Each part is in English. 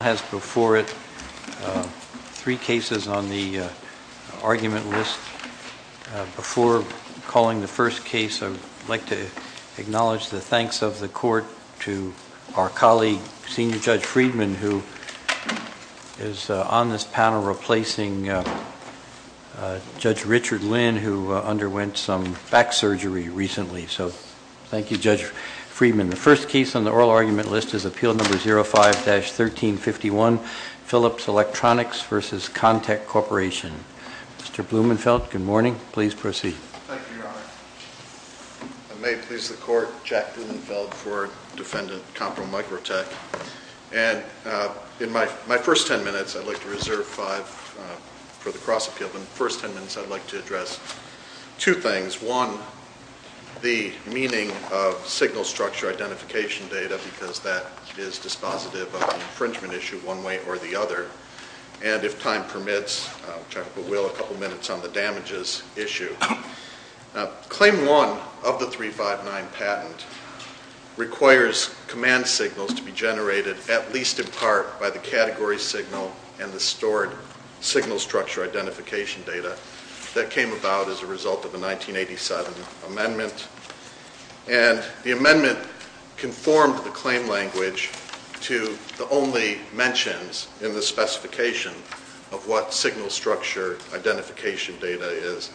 has before it three cases on the argument list. Before calling the first case, I would like to acknowledge the thanks of the court to our colleague, Senior Judge Friedman, who is on this panel replacing Judge Richard Lynn, who underwent some back surgery recently. So thank you, Judge Friedman. The first case on the oral argument list is Appeal No. 05-1351, Philips Electronics v. Contec Corporation. Mr. Blumenfeld, good morning. Please proceed. Thank you, Your Honor. May it please the court, Jack Blumenfeld for Defendant Compro Microtech. And in my first ten minutes, I'd like to reserve five for the cross-appeal. In the first ten minutes, I'd like to address two things. One, the meaning of signal structure identification data, because that is dispositive of an infringement issue one way or the other. And if time permits, which I will, a couple minutes on the damages issue. Claim one of the 359 patent requires command signals to be generated at least in part by the category signal and the stored signal structure identification data that came about as a result of a 1987 amendment. And the amendment conformed the claim language to the only mentions in the specification of what signal structure identification data is.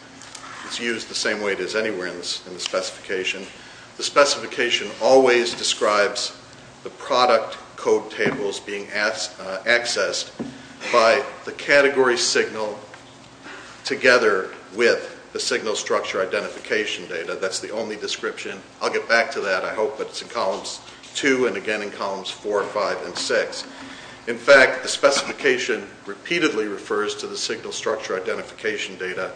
It's used the same way it is anywhere in the specification. The specification always describes the product code tables being accessed by the category signal together with the signal structure identification data. That's the only description. I'll get back to that, I hope, but it's in columns two and again in columns four, five, and six. In fact, the specification repeatedly refers to the signal structure identification data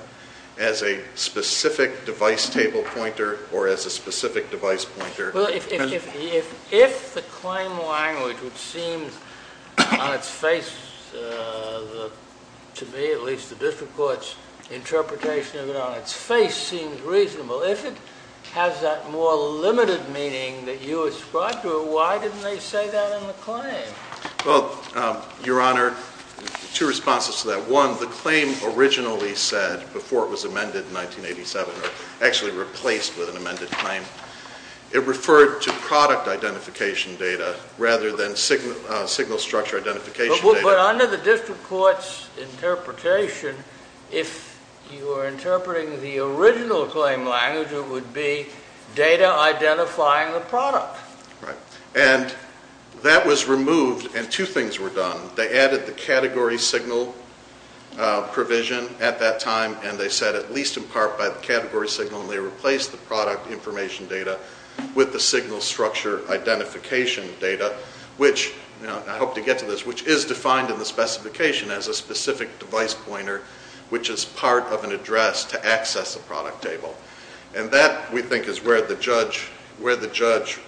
as a specific device table pointer or as a specific device pointer. Well, if the claim language, which seems on its face to me, at least the district court's interpretation of it on its face, seems reasonable, if it has that more limited meaning that you ascribed to it, why didn't they say that in the claim? Well, Your Honor, two responses to that. One, the claim originally said, before it was amended in 1987 or actually replaced with an amended claim, it referred to product identification data rather than signal structure identification data. But under the district court's interpretation, if you are interpreting the original claim language, it would be data identifying the product. And that was removed and two things were done. They added the category signal provision at that time and they said at least in part by the category signal and they replaced the product information data with the signal structure identification data, which I hope to get to this, which is defined in the specification as a specific device pointer, which is part of an address to access a product table. And that, we think, is where the judge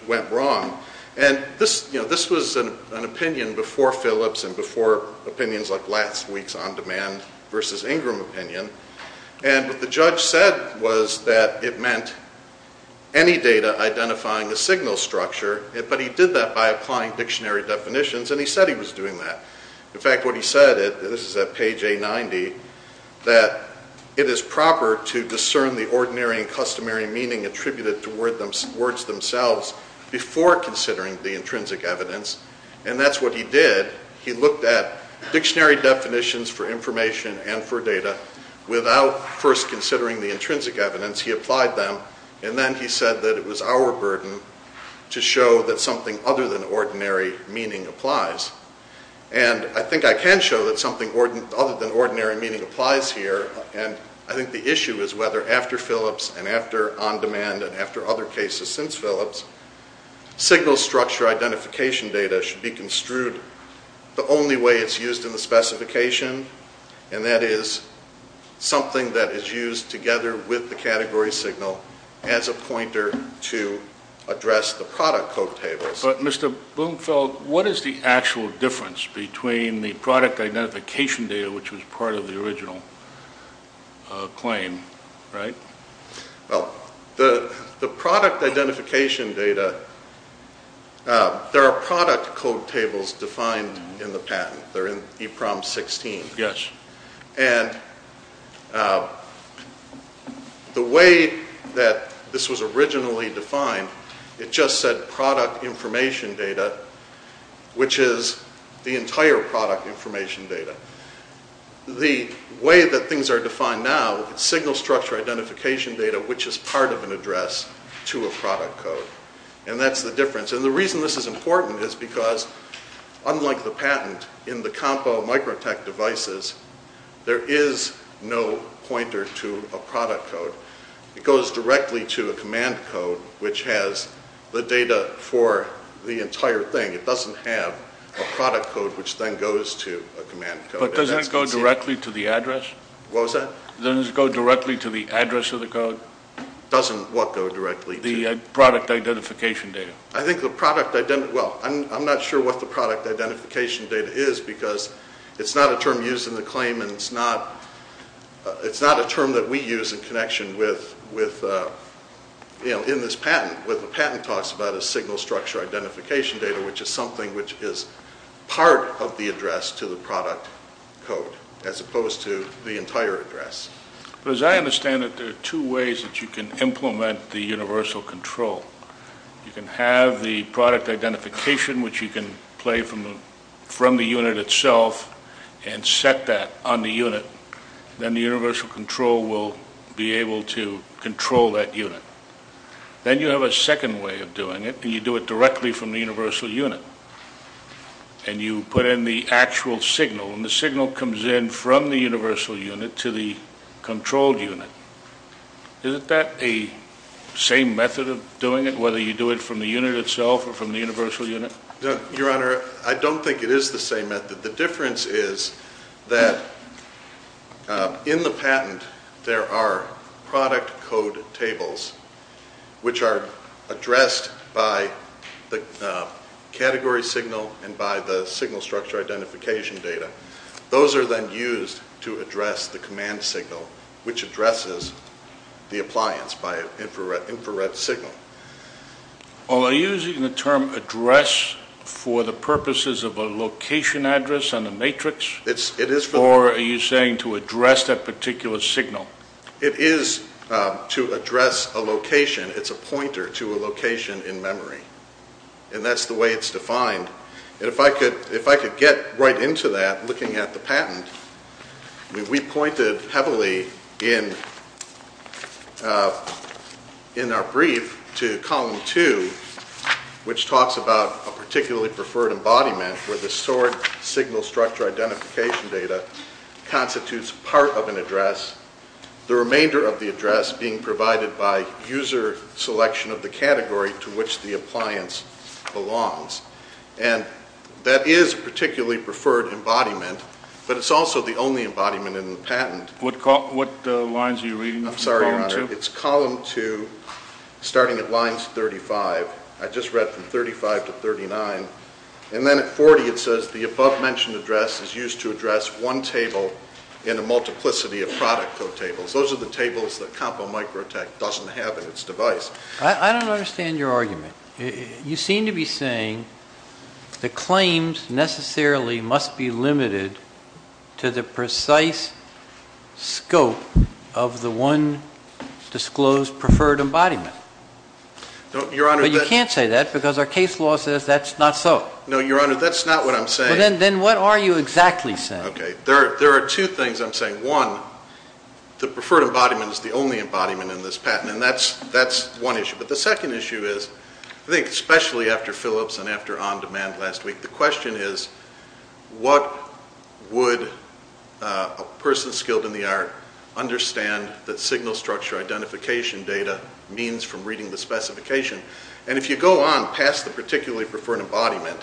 went wrong. And this was an opinion before Phillips and before opinions like last week's On Demand versus Ingram opinion. And what the judge said was that it meant any data identifying the signal structure, but he did that by applying dictionary definitions and he said he was doing that. In fact, what he said, this is at page A90, that it is proper to discern the ordinary and customary meaning attributed to words themselves before considering the intrinsic evidence. And that's what he did. He looked at dictionary definitions for information and for data without first considering the intrinsic evidence. He applied them and then he said that it was our burden to show that something other than ordinary meaning applies. And I think I can show that something other than ordinary meaning applies here and I think the issue is whether after Phillips and after On Demand and after other cases since Phillips, signal structure identification data should be construed the only way it's used in the specification and that is something that is used together with the category signal as a pointer to address the product code tables. But Mr. Blumfeld, what is the actual difference between the product identification data, which was part of the original claim, right? Well, the product identification data, there are product code tables defined in the patent. They're in EPROM 16. And the way that this was originally defined, it just said product information data, which is the entire product information data. The way that things are defined now, signal structure identification data, which is part of an address to a product code. And that's the difference. And the reason this is important is because unlike the patent, in the COMPO microtech devices, there is no pointer to a product code. It goes directly to a command code, which has the data for the entire thing. It doesn't have a product code, which then goes to a command code. But doesn't it go directly to the address? What was that? Doesn't it go directly to the address of the code? Doesn't what go directly to? The product identification data. Well, I'm not sure what the product identification data is because it's not a term used in the claim and it's not a term that we use in connection with, you know, in this patent. What the patent talks about is signal structure identification data, which is something which is part of the address to the product code, as opposed to the entire address. As I understand it, there are two ways that you can implement the universal control. You can have the product identification, which you can play from the unit itself and set that on the unit. Then the universal control will be able to control that unit. Then you have a second way of doing it, and you do it directly from the universal unit. And you put in the actual signal, and the signal comes in from the universal unit to the controlled unit. Isn't that the same method of doing it, whether you do it from the unit itself or from the universal unit? Your Honor, I don't think it is the same method. The difference is that in the patent there are product code tables, which are addressed by the category signal and by the signal structure identification data. Those are then used to address the command signal, which addresses the appliance by an infrared signal. Are you using the term address for the purposes of a location address on the matrix, or are you saying to address that particular signal? It is to address a location. It's a pointer to a location in memory, and that's the way it's defined. If I could get right into that, looking at the patent, we pointed heavily in our brief to column two, which talks about a particularly preferred embodiment where the SOARD signal structure identification data constitutes part of an address, the remainder of the address being provided by user selection of the category to which the appliance belongs. And that is a particularly preferred embodiment, but it's also the only embodiment in the patent. What lines are you reading in column two? I'm sorry, Your Honor. It's column two, starting at lines 35. I just read from 35 to 39. And then at 40, it says the above-mentioned address is used to address one table in a multiplicity of product code tables. Those are the tables that CompoMicroTech doesn't have in its device. I don't understand your argument. You seem to be saying the claims necessarily must be limited to the precise scope of the one disclosed preferred embodiment. But you can't say that because our case law says that's not so. No, Your Honor, that's not what I'm saying. Then what are you exactly saying? There are two things I'm saying. One, the preferred embodiment is the only embodiment in this patent, and that's one issue. But the second issue is, I think especially after Philips and after On Demand last week, the question is what would a person skilled in the art understand that signal structure identification data means from reading the specification? And if you go on past the particularly preferred embodiment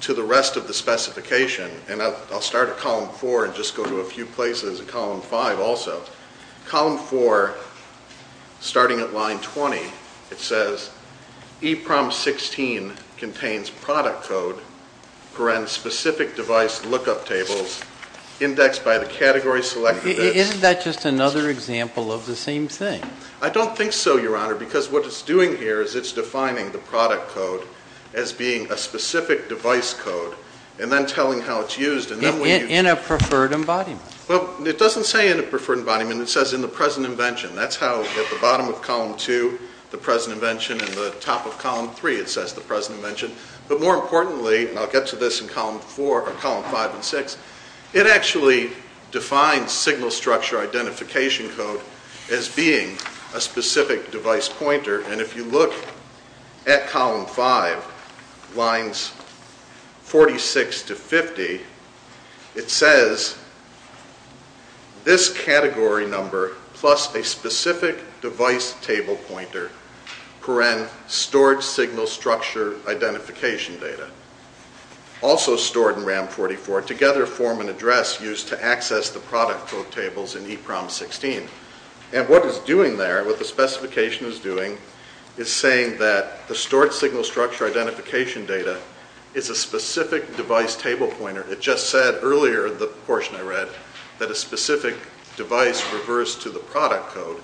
to the rest of the specification, and I'll start at column four and just go to a few places in column five also, column four, starting at line 20, it says EPROM 16 contains product code for specific device lookup tables indexed by the category selected. Isn't that just another example of the same thing? I don't think so, Your Honor, because what it's doing here is it's defining the product code as being a specific device code and then telling how it's used. In a preferred embodiment? Well, it doesn't say in a preferred embodiment. It says in the present invention. That's how at the bottom of column two, the present invention, and the top of column three it says the present invention. But more importantly, and I'll get to this in column five and six, it actually defines signal structure identification code as being a specific device pointer. And if you look at column five, lines 46 to 50, it says this category number plus a specific device table pointer, parent storage signal structure identification data, also stored in RAM 44, together form an address used to access the product code tables in EPROM 16. And what it's doing there, what the specification is doing, is saying that the stored signal structure identification data is a specific device table pointer. It just said earlier in the portion I read that a specific device refers to the product code.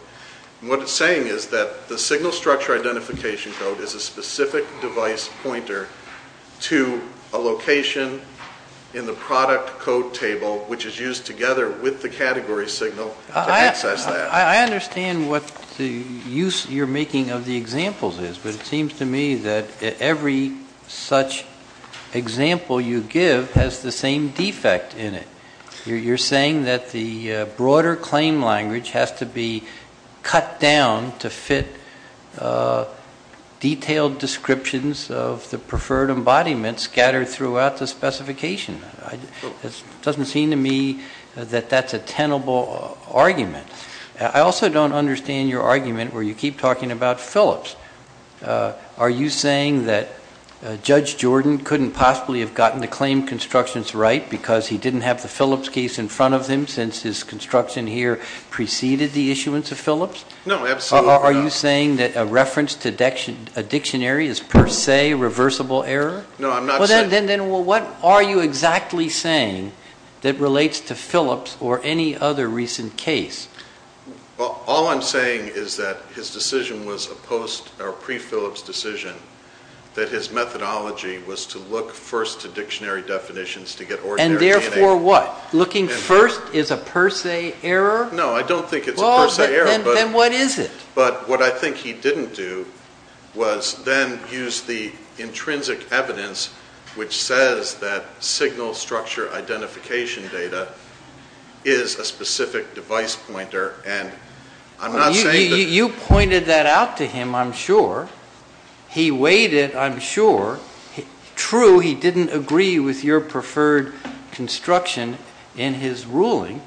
And what it's saying is that the signal structure identification code is a specific device pointer to a location in the product code table, which is used together with the category signal to access that. I understand what the use you're making of the examples is, but it seems to me that every such example you give has the same defect in it. You're saying that the broader claim language has to be cut down to fit detailed descriptions of the preferred embodiment scattered throughout the specification. It doesn't seem to me that that's a tenable argument. I also don't understand your argument where you keep talking about Phillips. Are you saying that Judge Jordan couldn't possibly have gotten the claim constructions right because he didn't have the Phillips case in front of him since his construction here preceded the issuance of Phillips? No, absolutely not. Are you saying that a reference to a dictionary is per se reversible error? No, I'm not saying that. Then what are you exactly saying that relates to Phillips or any other recent case? All I'm saying is that his decision was a pre-Phillips decision, that his methodology was to look first to dictionary definitions to get ordinary DNA. And therefore what? Looking first is a per se error? No, I don't think it's a per se error. Then what is it? But what I think he didn't do was then use the intrinsic evidence which says that signal structure identification data is a specific device pointer. And I'm not saying that. You pointed that out to him, I'm sure. He weighed it, I'm sure. True, he didn't agree with your preferred construction in his ruling.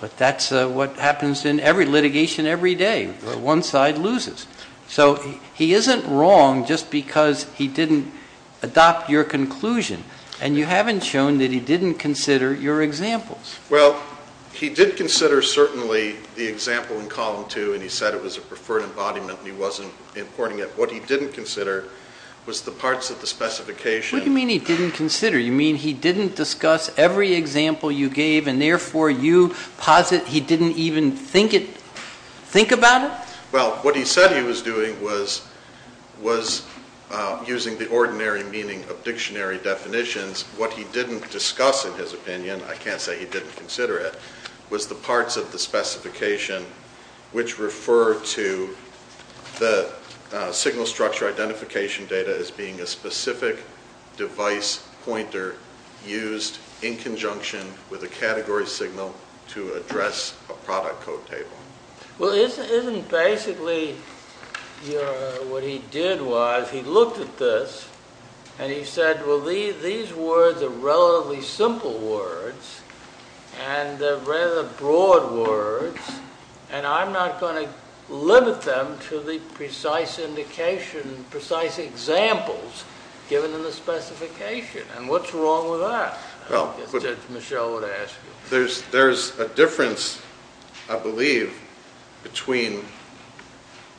But that's what happens in every litigation every day. One side loses. So he isn't wrong just because he didn't adopt your conclusion. And you haven't shown that he didn't consider your examples. Well, he did consider certainly the example in column two and he said it was a preferred embodiment and he wasn't importing it. What he didn't consider was the parts of the specification. What do you mean he didn't consider? You mean he didn't discuss every example you gave and therefore you posit he didn't even think about it? Well, what he said he was doing was using the ordinary meaning of dictionary definitions. What he didn't discuss in his opinion, I can't say he didn't consider it, was the parts of the specification which refer to the signal structure identification data as being a specific device pointer used in conjunction with a category signal to address a product code table. Well, isn't basically what he did was he looked at this and he said, well, these words are relatively simple words and they're rather broad words and I'm not going to limit them to the precise indication, precise examples given in the specification. And what's wrong with that? I guess that's what Michelle would ask. There's a difference, I believe, between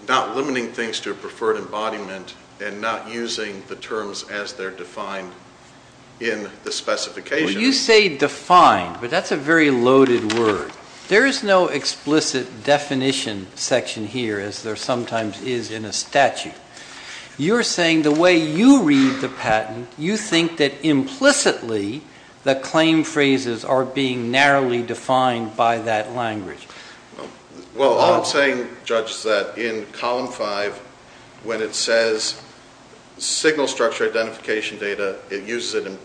not limiting things to a preferred embodiment and not using the terms as they're defined in the specification. You say defined, but that's a very loaded word. There is no explicit definition section here as there sometimes is in a statute. You're saying the way you read the patent, you think that implicitly the claim phrases are being narrowly defined by that language. Well, all I'm saying, Judge, is that in Column 5 when it says signal structure identification data, it uses it in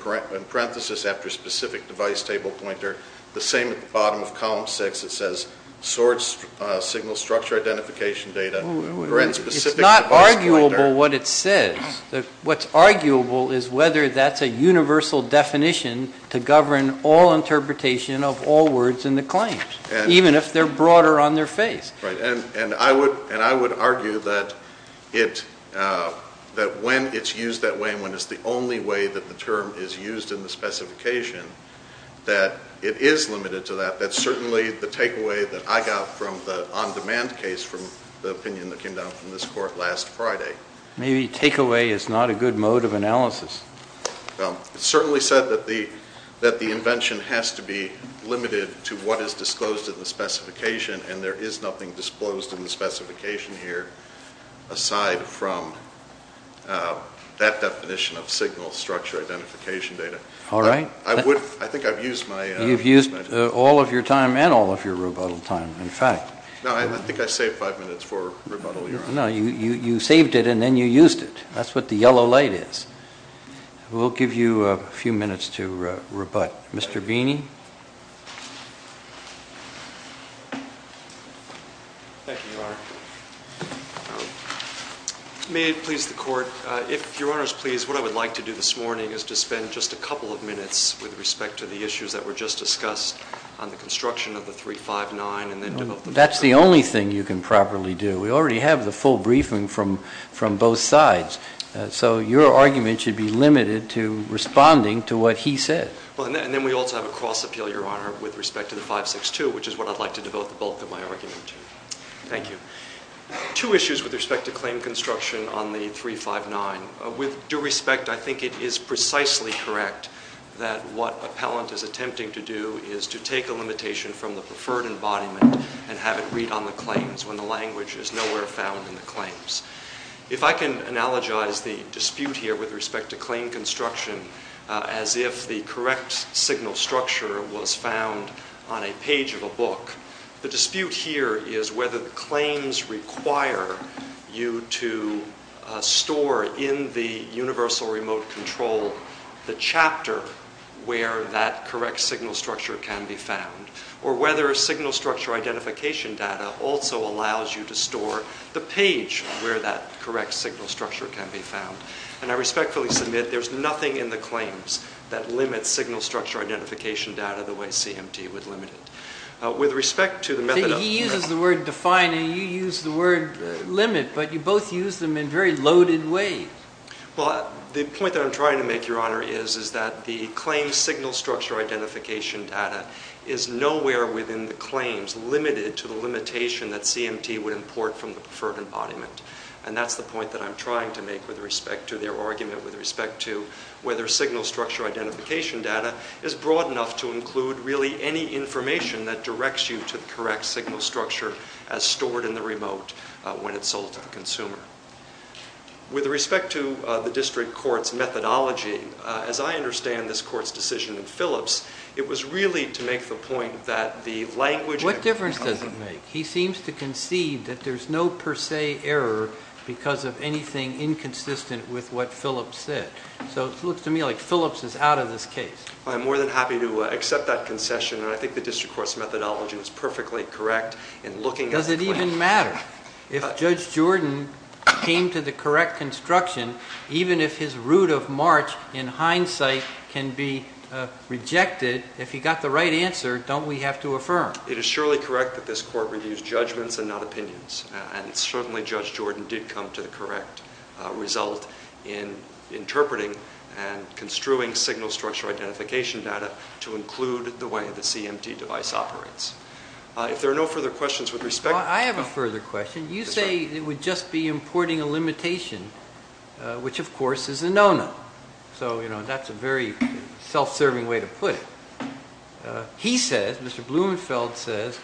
parenthesis after specific device table pointer. The same at the bottom of Column 6, it says source signal structure identification data. It's not arguable what it says. What's arguable is whether that's a universal definition to govern all interpretation of all words in the claims, even if they're broader on their face. Right. And I would argue that when it's used that way and when it's the only way that the term is used in the specification, that it is limited to that. That's certainly the takeaway that I got from the on-demand case from the opinion that came down from this Court last Friday. Maybe takeaway is not a good mode of analysis. It's certainly said that the invention has to be limited to what is disclosed in the specification, and there is nothing disclosed in the specification here aside from that definition of signal structure identification data. All right. I think I've used my time. You've used all of your time and all of your rebuttal time, in fact. No, I think I saved five minutes for rebuttal. No, you saved it and then you used it. That's what the yellow light is. We'll give you a few minutes to rebut. Mr. Beeney? Thank you, Your Honor. May it please the Court, if Your Honor is pleased, what I would like to do this morning is to spend just a couple of minutes with respect to the issues that were just discussed on the construction of the 359 and then to open it up. That's the only thing you can properly do. We already have the full briefing from both sides, so your argument should be limited to responding to what he said. And then we also have a cross appeal, Your Honor, with respect to the 562, which is what I'd like to devote the bulk of my argument to. Thank you. Two issues with respect to claim construction on the 359. With due respect, I think it is precisely correct that what appellant is attempting to do is to take a limitation from the preferred embodiment and have it read on the claims when the language is nowhere found in the claims. If I can analogize the dispute here with respect to claim construction as if the correct signal structure was found on a page of a book, the dispute here is whether the claims require you to store in the universal remote control the chapter where that correct signal structure can be found or whether signal structure identification data also allows you to store the page where that correct signal structure can be found. And I respectfully submit there's nothing in the claims that limits signal structure identification data the way CMT would limit it. He uses the word define and you use the word limit, but you both use them in a very loaded way. Well, the point that I'm trying to make, Your Honor, is that the claim signal structure identification data is nowhere within the claims limited to the limitation that CMT would import from the preferred embodiment. And that's the point that I'm trying to make with respect to their argument with respect to whether signal structure identification data is broad enough to include really any information that directs you to the correct signal structure as stored in the remote when it's sold to the consumer. With respect to the district court's methodology, as I understand this court's decision in Phillips, it was really to make the point that the language... What difference does it make? He seems to concede that there's no per se error because of anything inconsistent with what Phillips said. So it looks to me like Phillips is out of this case. I'm more than happy to accept that concession, and I think the district court's methodology is perfectly correct in looking at... Does it even matter? If Judge Jordan came to the correct construction, even if his route of march, in hindsight, can be rejected, if he got the right answer, don't we have to affirm? It is surely correct that this court reviews judgments and not opinions, and certainly Judge Jordan did come to the correct result in interpreting and construing signal structure identification data to include the way the CMT device operates. If there are no further questions, with respect... I have a further question. You say it would just be importing a limitation, which, of course, is a no-no. So, you know, that's a very self-serving way to put it. He says, Mr. Blumenfeld says,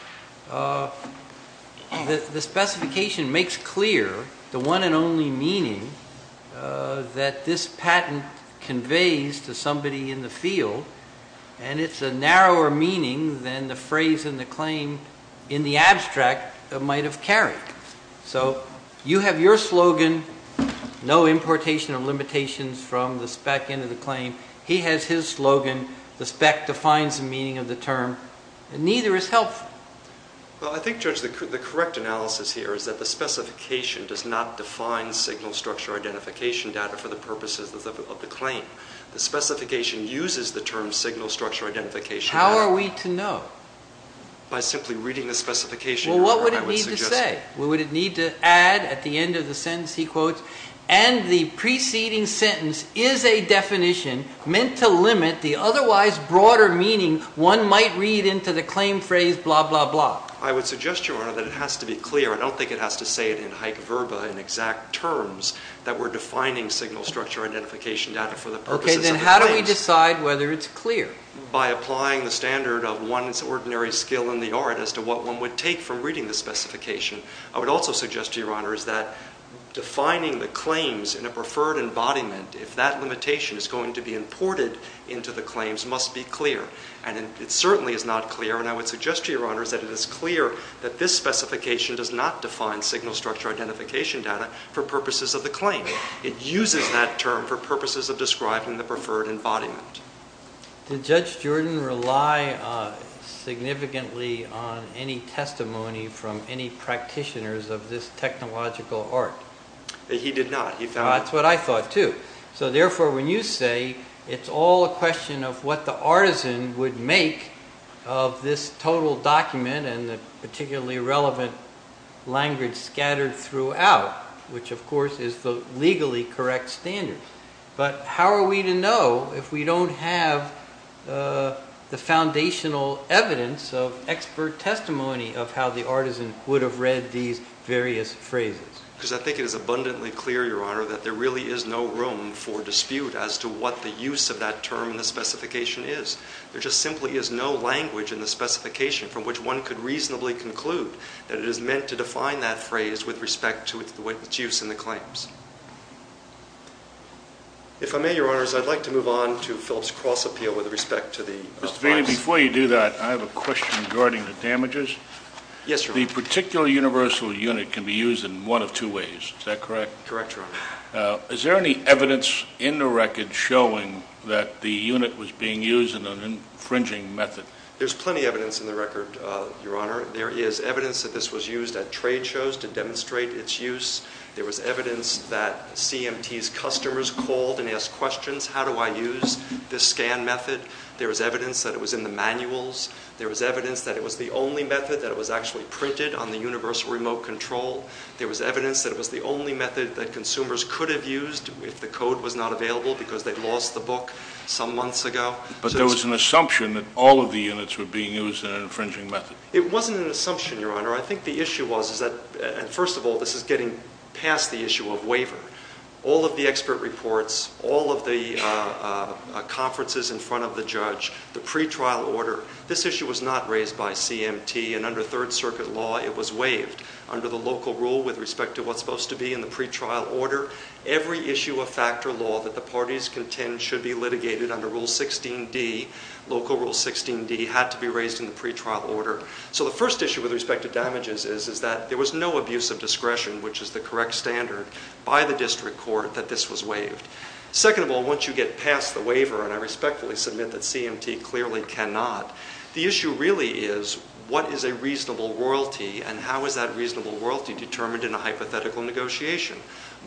the specification makes clear the one and only meaning that this patent conveys to somebody in the field, and it's a narrower meaning than the phrase in the claim, in the abstract, might have carried. So, you have your slogan, no importation of limitations from the spec into the claim. He has his slogan, the spec defines the meaning of the term, and neither is helpful. Well, I think, Judge, the correct analysis here is that the specification does not define signal structure identification data for the purposes of the claim. The specification uses the term signal structure identification... How are we to know? By simply reading the specification, Your Honor, I would suggest... Well, what would it need to say? What would it need to add at the end of the sentence? He quotes, and the preceding sentence is a definition meant to limit the otherwise broader meaning one might read into the claim phrase blah, blah, blah. I would suggest, Your Honor, that it has to be clear. I don't think it has to say it in hyc verba, in exact terms, that we're defining signal structure identification data for the purposes of the claims. Okay, then how do we decide whether it's clear? By applying the standard of one's ordinary skill in the art as to what one would take from reading the specification. I would also suggest to Your Honor is that defining the claims in a preferred embodiment, if that limitation is going to be imported into the claims, must be clear. And it certainly is not clear, and I would suggest to Your Honor that it is clear that this specification does not define signal structure identification data for purposes of the claim. It uses that term for purposes of describing the preferred embodiment. Did Judge Jordan rely significantly on any testimony from any practitioners of this technological art? He did not. That's what I thought, too. So, therefore, when you say it's all a question of what the artisan would make of this total document and the particularly relevant language scattered throughout, which, of course, is the legally correct standard. But how are we to know if we don't have the foundational evidence of expert testimony of how the artisan would have read these various phrases? Because I think it is abundantly clear, Your Honor, that there really is no room for dispute as to what the use of that term in the specification is. There just simply is no language in the specification from which one could reasonably conclude that it is meant to define that phrase with respect to its use in the claims. If I may, Your Honors, I'd like to move on to Philip's cross-appeal with respect to the advice. Mr. Vaney, before you do that, I have a question regarding the damages. Yes, Your Honor. The particular universal unit can be used in one of two ways. Is that correct? Correct, Your Honor. Is there any evidence in the record showing that the unit was being used in an infringing method? There's plenty of evidence in the record, Your Honor. There is evidence that this was used at trade shows to demonstrate its use. There was evidence that CMT's customers called and asked questions, how do I use this scan method? There was evidence that it was in the manuals. There was evidence that it was the only method that was actually printed on the universal remote control. There was evidence that it was the only method that consumers could have used if the code was not available because they'd lost the book some months ago. But there was an assumption that all of the units were being used in an infringing method. It wasn't an assumption, Your Honor. I think the issue was that, first of all, this is getting past the issue of waiver. All of the expert reports, all of the conferences in front of the judge, the pretrial order, this issue was not raised by CMT. And under Third Circuit law, it was waived. Under the local rule with respect to what's supposed to be in the pretrial order, every issue of factor law that the parties contend should be litigated under Rule 16D, local Rule 16D, had to be raised in the pretrial order. So the first issue with respect to damages is that there was no abuse of discretion, which is the correct standard. By the district court, that this was waived. Second of all, once you get past the waiver, and I respectfully submit that CMT clearly cannot, the issue really is what is a reasonable royalty and how is that reasonable royalty determined in a hypothetical negotiation.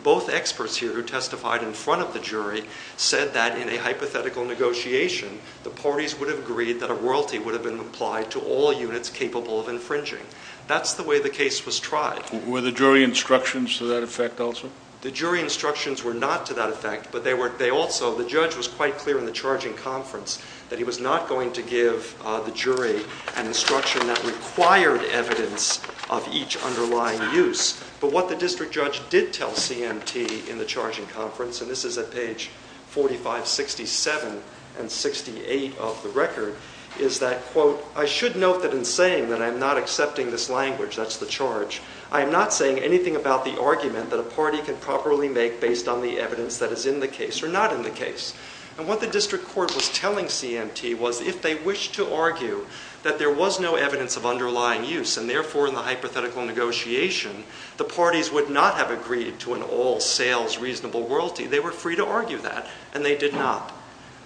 Both experts here who testified in front of the jury said that in a hypothetical negotiation, the parties would have agreed that a royalty would have been applied to all units capable of infringing. That's the way the case was tried. Were the jury instructions to that effect also? The jury instructions were not to that effect, but they also, the judge was quite clear in the charging conference that he was not going to give the jury an instruction that required evidence of each underlying use. But what the district judge did tell CMT in the charging conference, and this is at page 4567 and 68 of the record, is that, quote, I should note that in saying that I'm not accepting this language, that's the charge, I am not saying anything about the argument that a party can properly make based on the evidence that is in the case or not in the case. And what the district court was telling CMT was if they wished to argue that there was no evidence of underlying use and therefore in the hypothetical negotiation, the parties would not have agreed to an all-sales reasonable royalty. They were free to argue that, and they did not.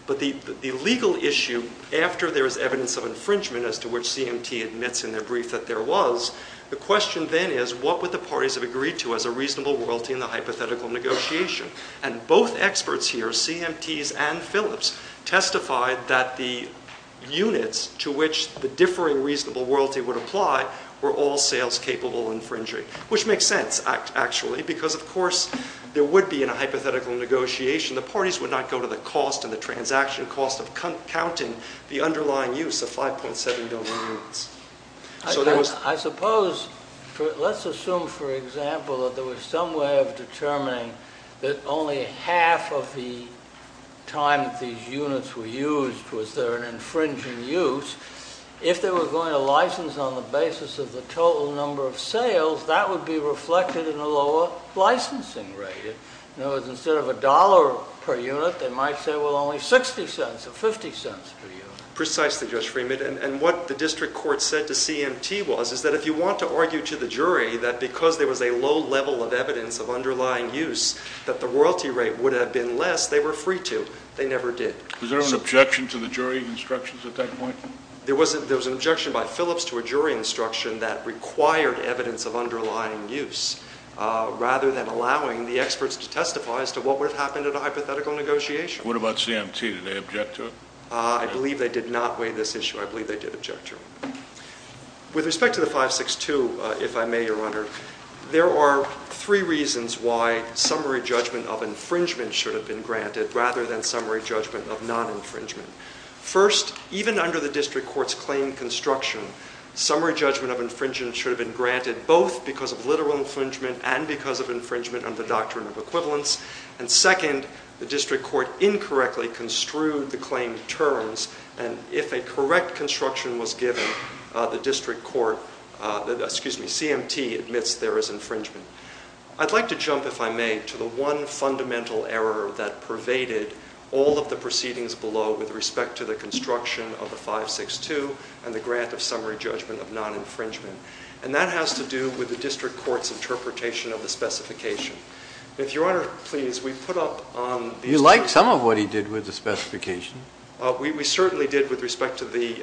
But the legal issue, after there is evidence of infringement, as to which CMT admits in their brief that there was, the question then is what would the parties have agreed to as a reasonable royalty in the hypothetical negotiation? And both experts here, CMTs and Phillips, testified that the units to which the differing reasonable royalty would apply were all sales-capable infringing, which makes sense, actually, because, of course, there would be in a hypothetical negotiation, the parties would not go to the cost and the transaction cost of counting the underlying use of 5.7 billion units. I suppose, let's assume, for example, that there was some way of determining that only half of the time that these units were used was there an infringing use. If they were going to license on the basis of the total number of sales, that would be reflected in a lower licensing rate. In other words, instead of a dollar per unit, they might say, well, only 60 cents or 50 cents per unit. Precisely, Judge Freeman, and what the district court said to CMT was, is that if you want to argue to the jury that because there was a low level of evidence of underlying use, that the royalty rate would have been less, they were free to, they never did. Was there an objection to the jury instructions at that point? There was an objection by Phillips to a jury instruction that required evidence of underlying use rather than allowing the experts to testify as to what would have happened at a hypothetical negotiation. What about CMT? Did they object to it? I believe they did not weigh this issue. I believe they did object to it. With respect to the 562, if I may, Your Honor, there are three reasons why summary judgment of infringement should have been granted rather than summary judgment of non-infringement. First, even under the district court's claim construction, summary judgment of infringement should have been granted both because of literal infringement and because of infringement under the doctrine of equivalence. And second, the district court incorrectly construed the claim terms, and if a correct construction was given, the district court, excuse me, CMT admits there is infringement. I'd like to jump, if I may, to the one fundamental error that pervaded all of the proceedings below with respect to the construction of the 562 and the grant of summary judgment of non-infringement, and that has to do with the district court's interpretation of the specification. If Your Honor, please, we put up on the... You like some of what he did with the specification. We certainly did with respect to the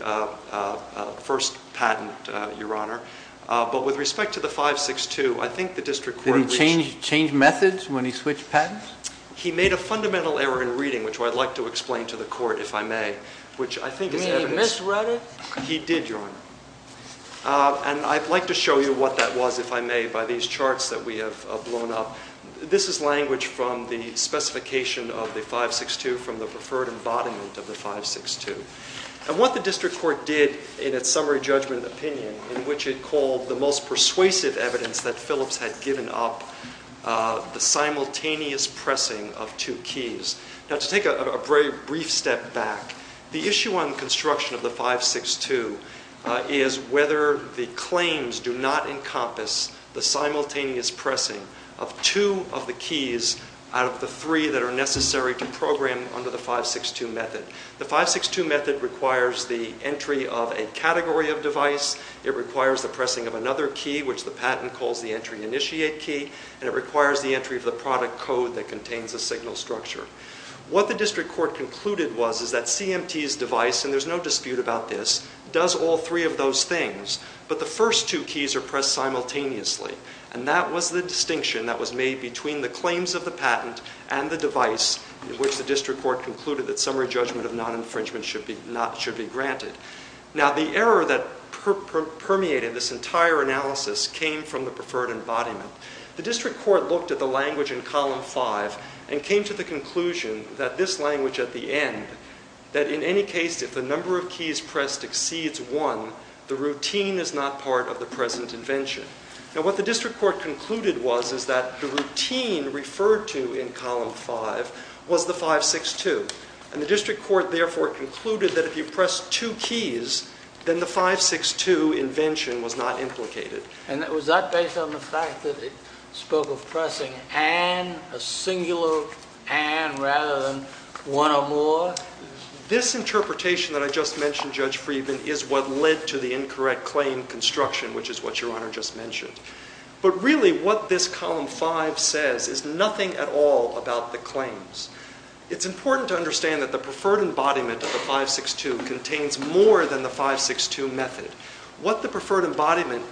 first patent, Your Honor, but with respect to the 562, I think the district court... Did he change methods when he switched patents? He made a fundamental error in reading, which I'd like to explain to the court, if I may, which I think is evidence... Did he misread it? He did, Your Honor. And I'd like to show you what that was, if I may, by these charts that we have blown up. This is language from the specification of the 562 from the preferred embodiment of the 562. And what the district court did in its summary judgment opinion, in which it called the most persuasive evidence that Phillips had given up, the simultaneous pressing of two keys. Now, to take a very brief step back, the issue on construction of the 562 is whether the claims do not encompass the simultaneous pressing of two of the keys out of the three that are necessary to program under the 562 method. The 562 method requires the entry of a category of device, it requires the pressing of another key, which the patent calls the entry initiate key, and it requires the entry of the product code that contains the signal structure. What the district court concluded was is that CMT's device, and there's no dispute about this, does all three of those things, but the first two keys are pressed simultaneously. And that was the distinction that was made between the claims of the patent and the device, in which the district court concluded that summary judgment of non-infringement should be granted. Now, the error that permeated this entire analysis came from the preferred embodiment. The district court looked at the language in column five and came to the conclusion that this language at the end, that in any case, if the number of keys pressed exceeds one, the routine is not part of the present invention. Now, what the district court concluded was is that the routine referred to in column five was the 562, and the district court, therefore, concluded that if you press two keys, then the 562 invention was not implicated. And was that based on the fact that it spoke of pressing and a singular and rather than one or more? This interpretation that I just mentioned, Judge Friedman, is what led to the incorrect claim construction, which is what Your Honor just mentioned. But really what this column five says is nothing at all about the claims. It's important to understand that the preferred embodiment of the 562 contains more than the 562 method. What the preferred embodiment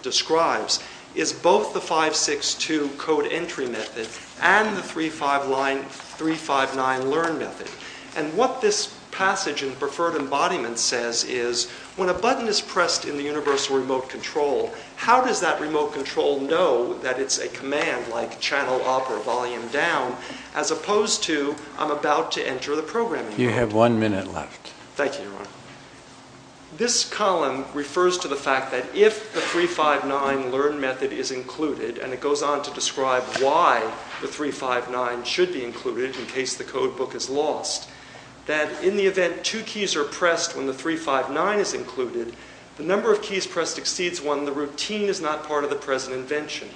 describes is both the 562 code entry method and the 359 learn method. And what this passage in preferred embodiment says is when a button is pressed in the universal remote control, how does that remote control know that it's a command like channel up or volume down, as opposed to I'm about to enter the programming. You have one minute left. Thank you, Your Honor. This column refers to the fact that if the 359 learn method is included, and it goes on to describe why the 359 should be included in case the code book is lost, that in the event two keys are pressed when the 359 is included, the number of keys pressed exceeds one and the routine is not part of the present invention.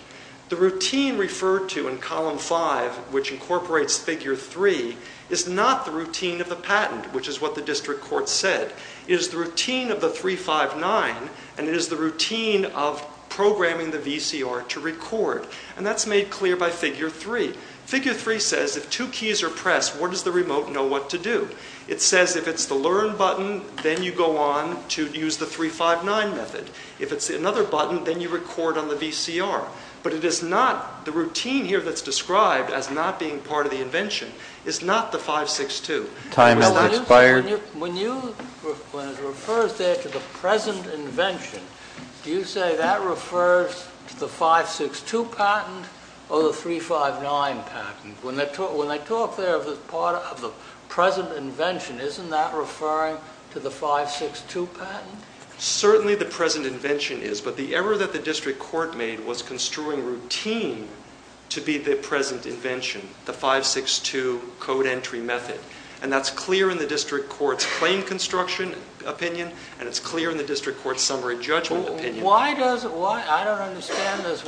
The routine referred to in column five, which incorporates figure three, is not the routine of the patent, which is what the district court said. It is the routine of the 359, and it is the routine of programming the VCR to record. And that's made clear by figure three. Figure three says if two keys are pressed, what does the remote know what to do? It says if it's the learn button, then you go on to use the 359 method. If it's another button, then you record on the VCR. But it is not the routine here that's described as not being part of the invention. It's not the 562. Time has expired. When it refers there to the present invention, do you say that refers to the 562 patent or the 359 patent? When they talk there of the present invention, isn't that referring to the 562 patent? Certainly the present invention is, but the error that the district court made was construing routine to be the present invention, the 562 code entry method. And that's clear in the district court's claim construction opinion, and it's clear in the district court's summary judgment opinion. I don't understand this.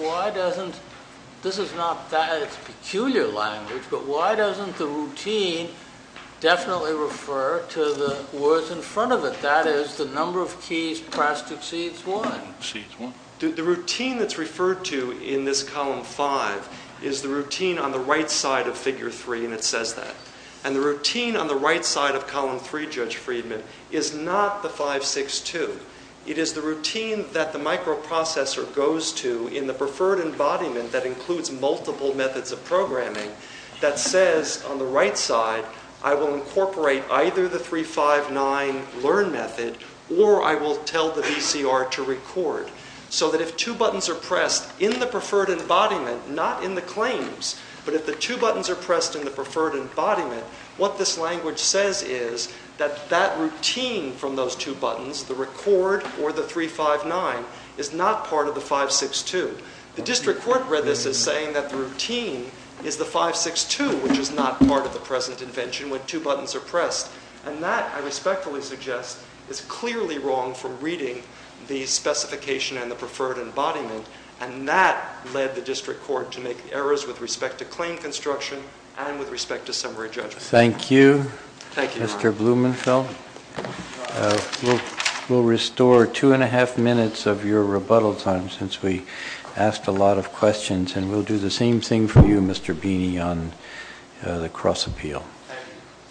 This is not that it's peculiar language, but why doesn't the routine definitely refer to the words in front of it? That is, the number of keys pressed exceeds one. The routine that's referred to in this column five is the routine on the right side of figure three, and it says that. And the routine on the right side of column three, Judge Friedman, is not the 562. It is the routine that the microprocessor goes to in the preferred embodiment that includes multiple methods of programming that says on the right side, I will incorporate either the 359 learn method or I will tell the VCR to record. So that if two buttons are pressed in the preferred embodiment, not in the claims, but if the two buttons are pressed in the preferred embodiment, what this language says is that that routine from those two buttons, the record or the 359, is not part of the 562. The district court read this as saying that the routine is the 562, which is not part of the present invention when two buttons are pressed. And that, I respectfully suggest, is clearly wrong from reading the specification and the preferred embodiment, and that led the district court to make errors with respect to claim construction and with respect to summary judgment. Thank you. Thank you, Your Honor. Mr. Blumenfeld, we'll restore two and a half minutes of your rebuttal time since we asked a lot of questions, and we'll do the same thing for you, Mr. Beeney, on the cross appeal.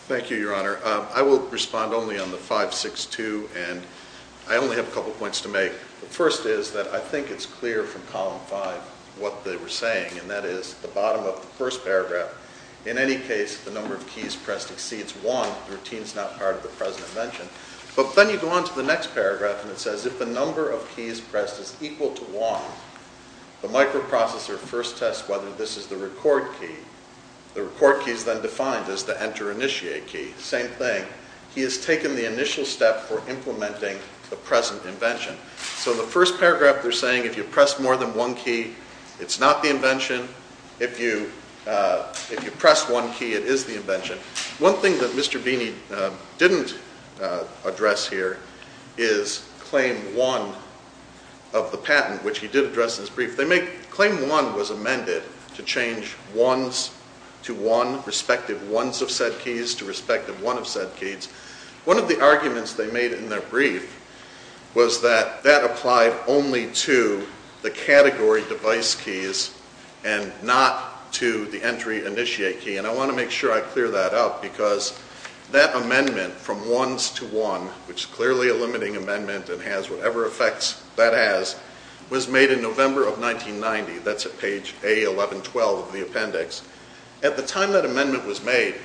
Thank you, Your Honor. I will respond only on the 562, and I only have a couple points to make. The first is that I think it's clear from Column 5 what they were saying, and that is the bottom of the first paragraph. In any case, the number of keys pressed exceeds one. The routine is not part of the present invention. But then you go on to the next paragraph, and it says, if the number of keys pressed is equal to one, the microprocessor first tests whether this is the record key. The record key is then defined as the enter-initiate key. Same thing. He has taken the initial step for implementing the present invention. So the first paragraph, they're saying if you press more than one key, it's not the invention. If you press one key, it is the invention. One thing that Mr. Beeney didn't address here is Claim 1 of the patent, which he did address in his brief. Claim 1 was amended to change ones to one, respective ones of said keys to respective one of said keys. One of the arguments they made in their brief was that that applied only to the category device keys and not to the entry-initiate key. And I want to make sure I clear that up, because that amendment from ones to one, which is clearly a limiting amendment and has whatever effects that has, was made in November of 1990. That's at page A1112 of the appendix. At the time that amendment was made,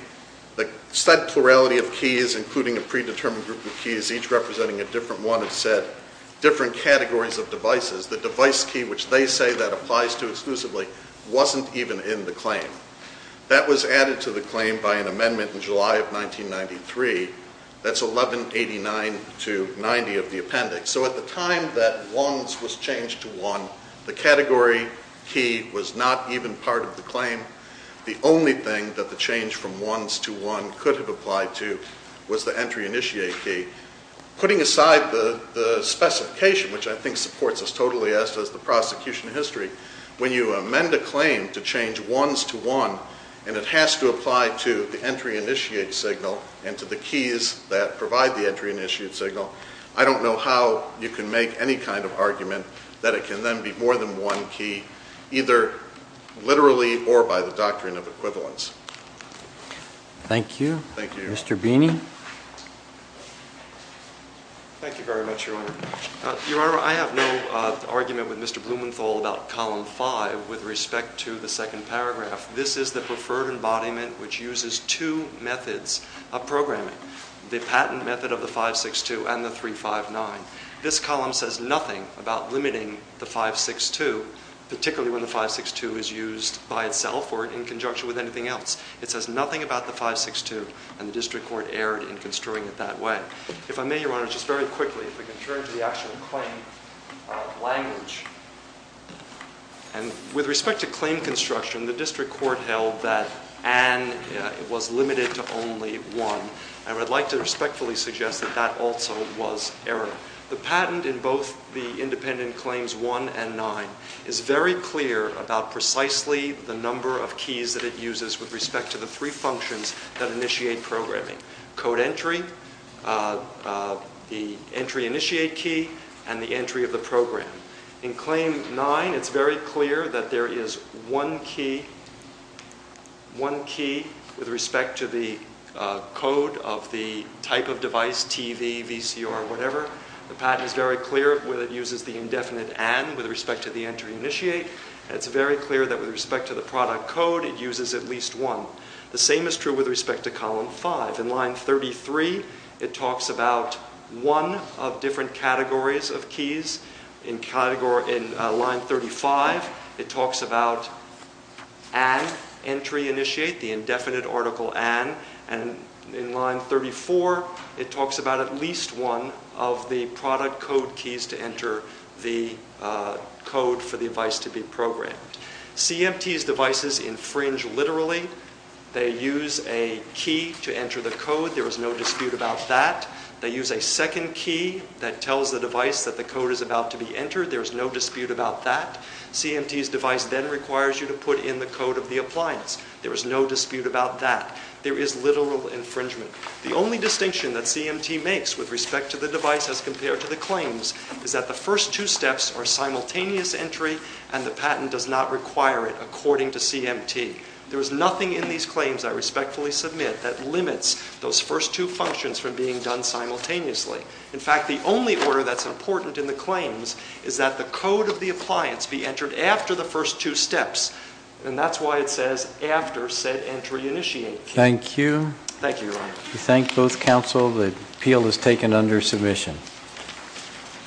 the said plurality of keys, including a predetermined group of keys, each representing a different one of said different categories of devices, wasn't even in the claim. That was added to the claim by an amendment in July of 1993. That's 1189-90 of the appendix. So at the time that ones was changed to one, the category key was not even part of the claim. The only thing that the change from ones to one could have applied to was the entry-initiate key. Putting aside the specification, which I think supports us totally, as does the prosecution history, when you amend a claim to change ones to one and it has to apply to the entry-initiate signal and to the keys that provide the entry-initiate signal, I don't know how you can make any kind of argument that it can then be more than one key, either literally or by the doctrine of equivalence. Thank you. Thank you. Mr. Beeney. Thank you very much, Your Honor. Your Honor, I have no argument with Mr. Blumenthal about Column 5 with respect to the second paragraph. This is the preferred embodiment which uses two methods of programming, the patent method of the 562 and the 359. This column says nothing about limiting the 562, particularly when the 562 is used by itself or in conjunction with anything else. It says nothing about the 562, and the district court erred in construing it that way. If I may, Your Honor, just very quickly, if we can turn to the actual claim language. With respect to claim construction, the district court held that and was limited to only one, and I would like to respectfully suggest that that also was error. The patent in both the independent claims 1 and 9 is very clear about precisely the number of keys that it uses with respect to the three functions that initiate programming, code entry, the entry initiate key, and the entry of the program. In Claim 9, it's very clear that there is one key with respect to the code of the type of device, TV, VCR, whatever. The patent is very clear where it uses the indefinite and with respect to the entry initiate. It's very clear that with respect to the product code, it uses at least one. The same is true with respect to Column 5. In line 33, it talks about one of different categories of keys. In line 35, it talks about an entry initiate, the indefinite article an, and in line 34, it talks about at least one of the product code keys to enter the code for the device to be programmed. CMT's devices infringe literally. They use a key to enter the code. There is no dispute about that. They use a second key that tells the device that the code is about to be entered. There is no dispute about that. CMT's device then requires you to put in the code of the appliance. There is no dispute about that. There is literal infringement. The only distinction that CMT makes with respect to the device as compared to the claims is that the first two steps are simultaneous entry and the patent does not require it according to CMT. There is nothing in these claims I respectfully submit that limits those first two functions from being done simultaneously. In fact, the only order that's important in the claims is that the code of the appliance be entered after the first two steps, and that's why it says after said entry initiate key. Thank you. Thank you, Your Honor. We thank both counsel. The appeal is taken under submission.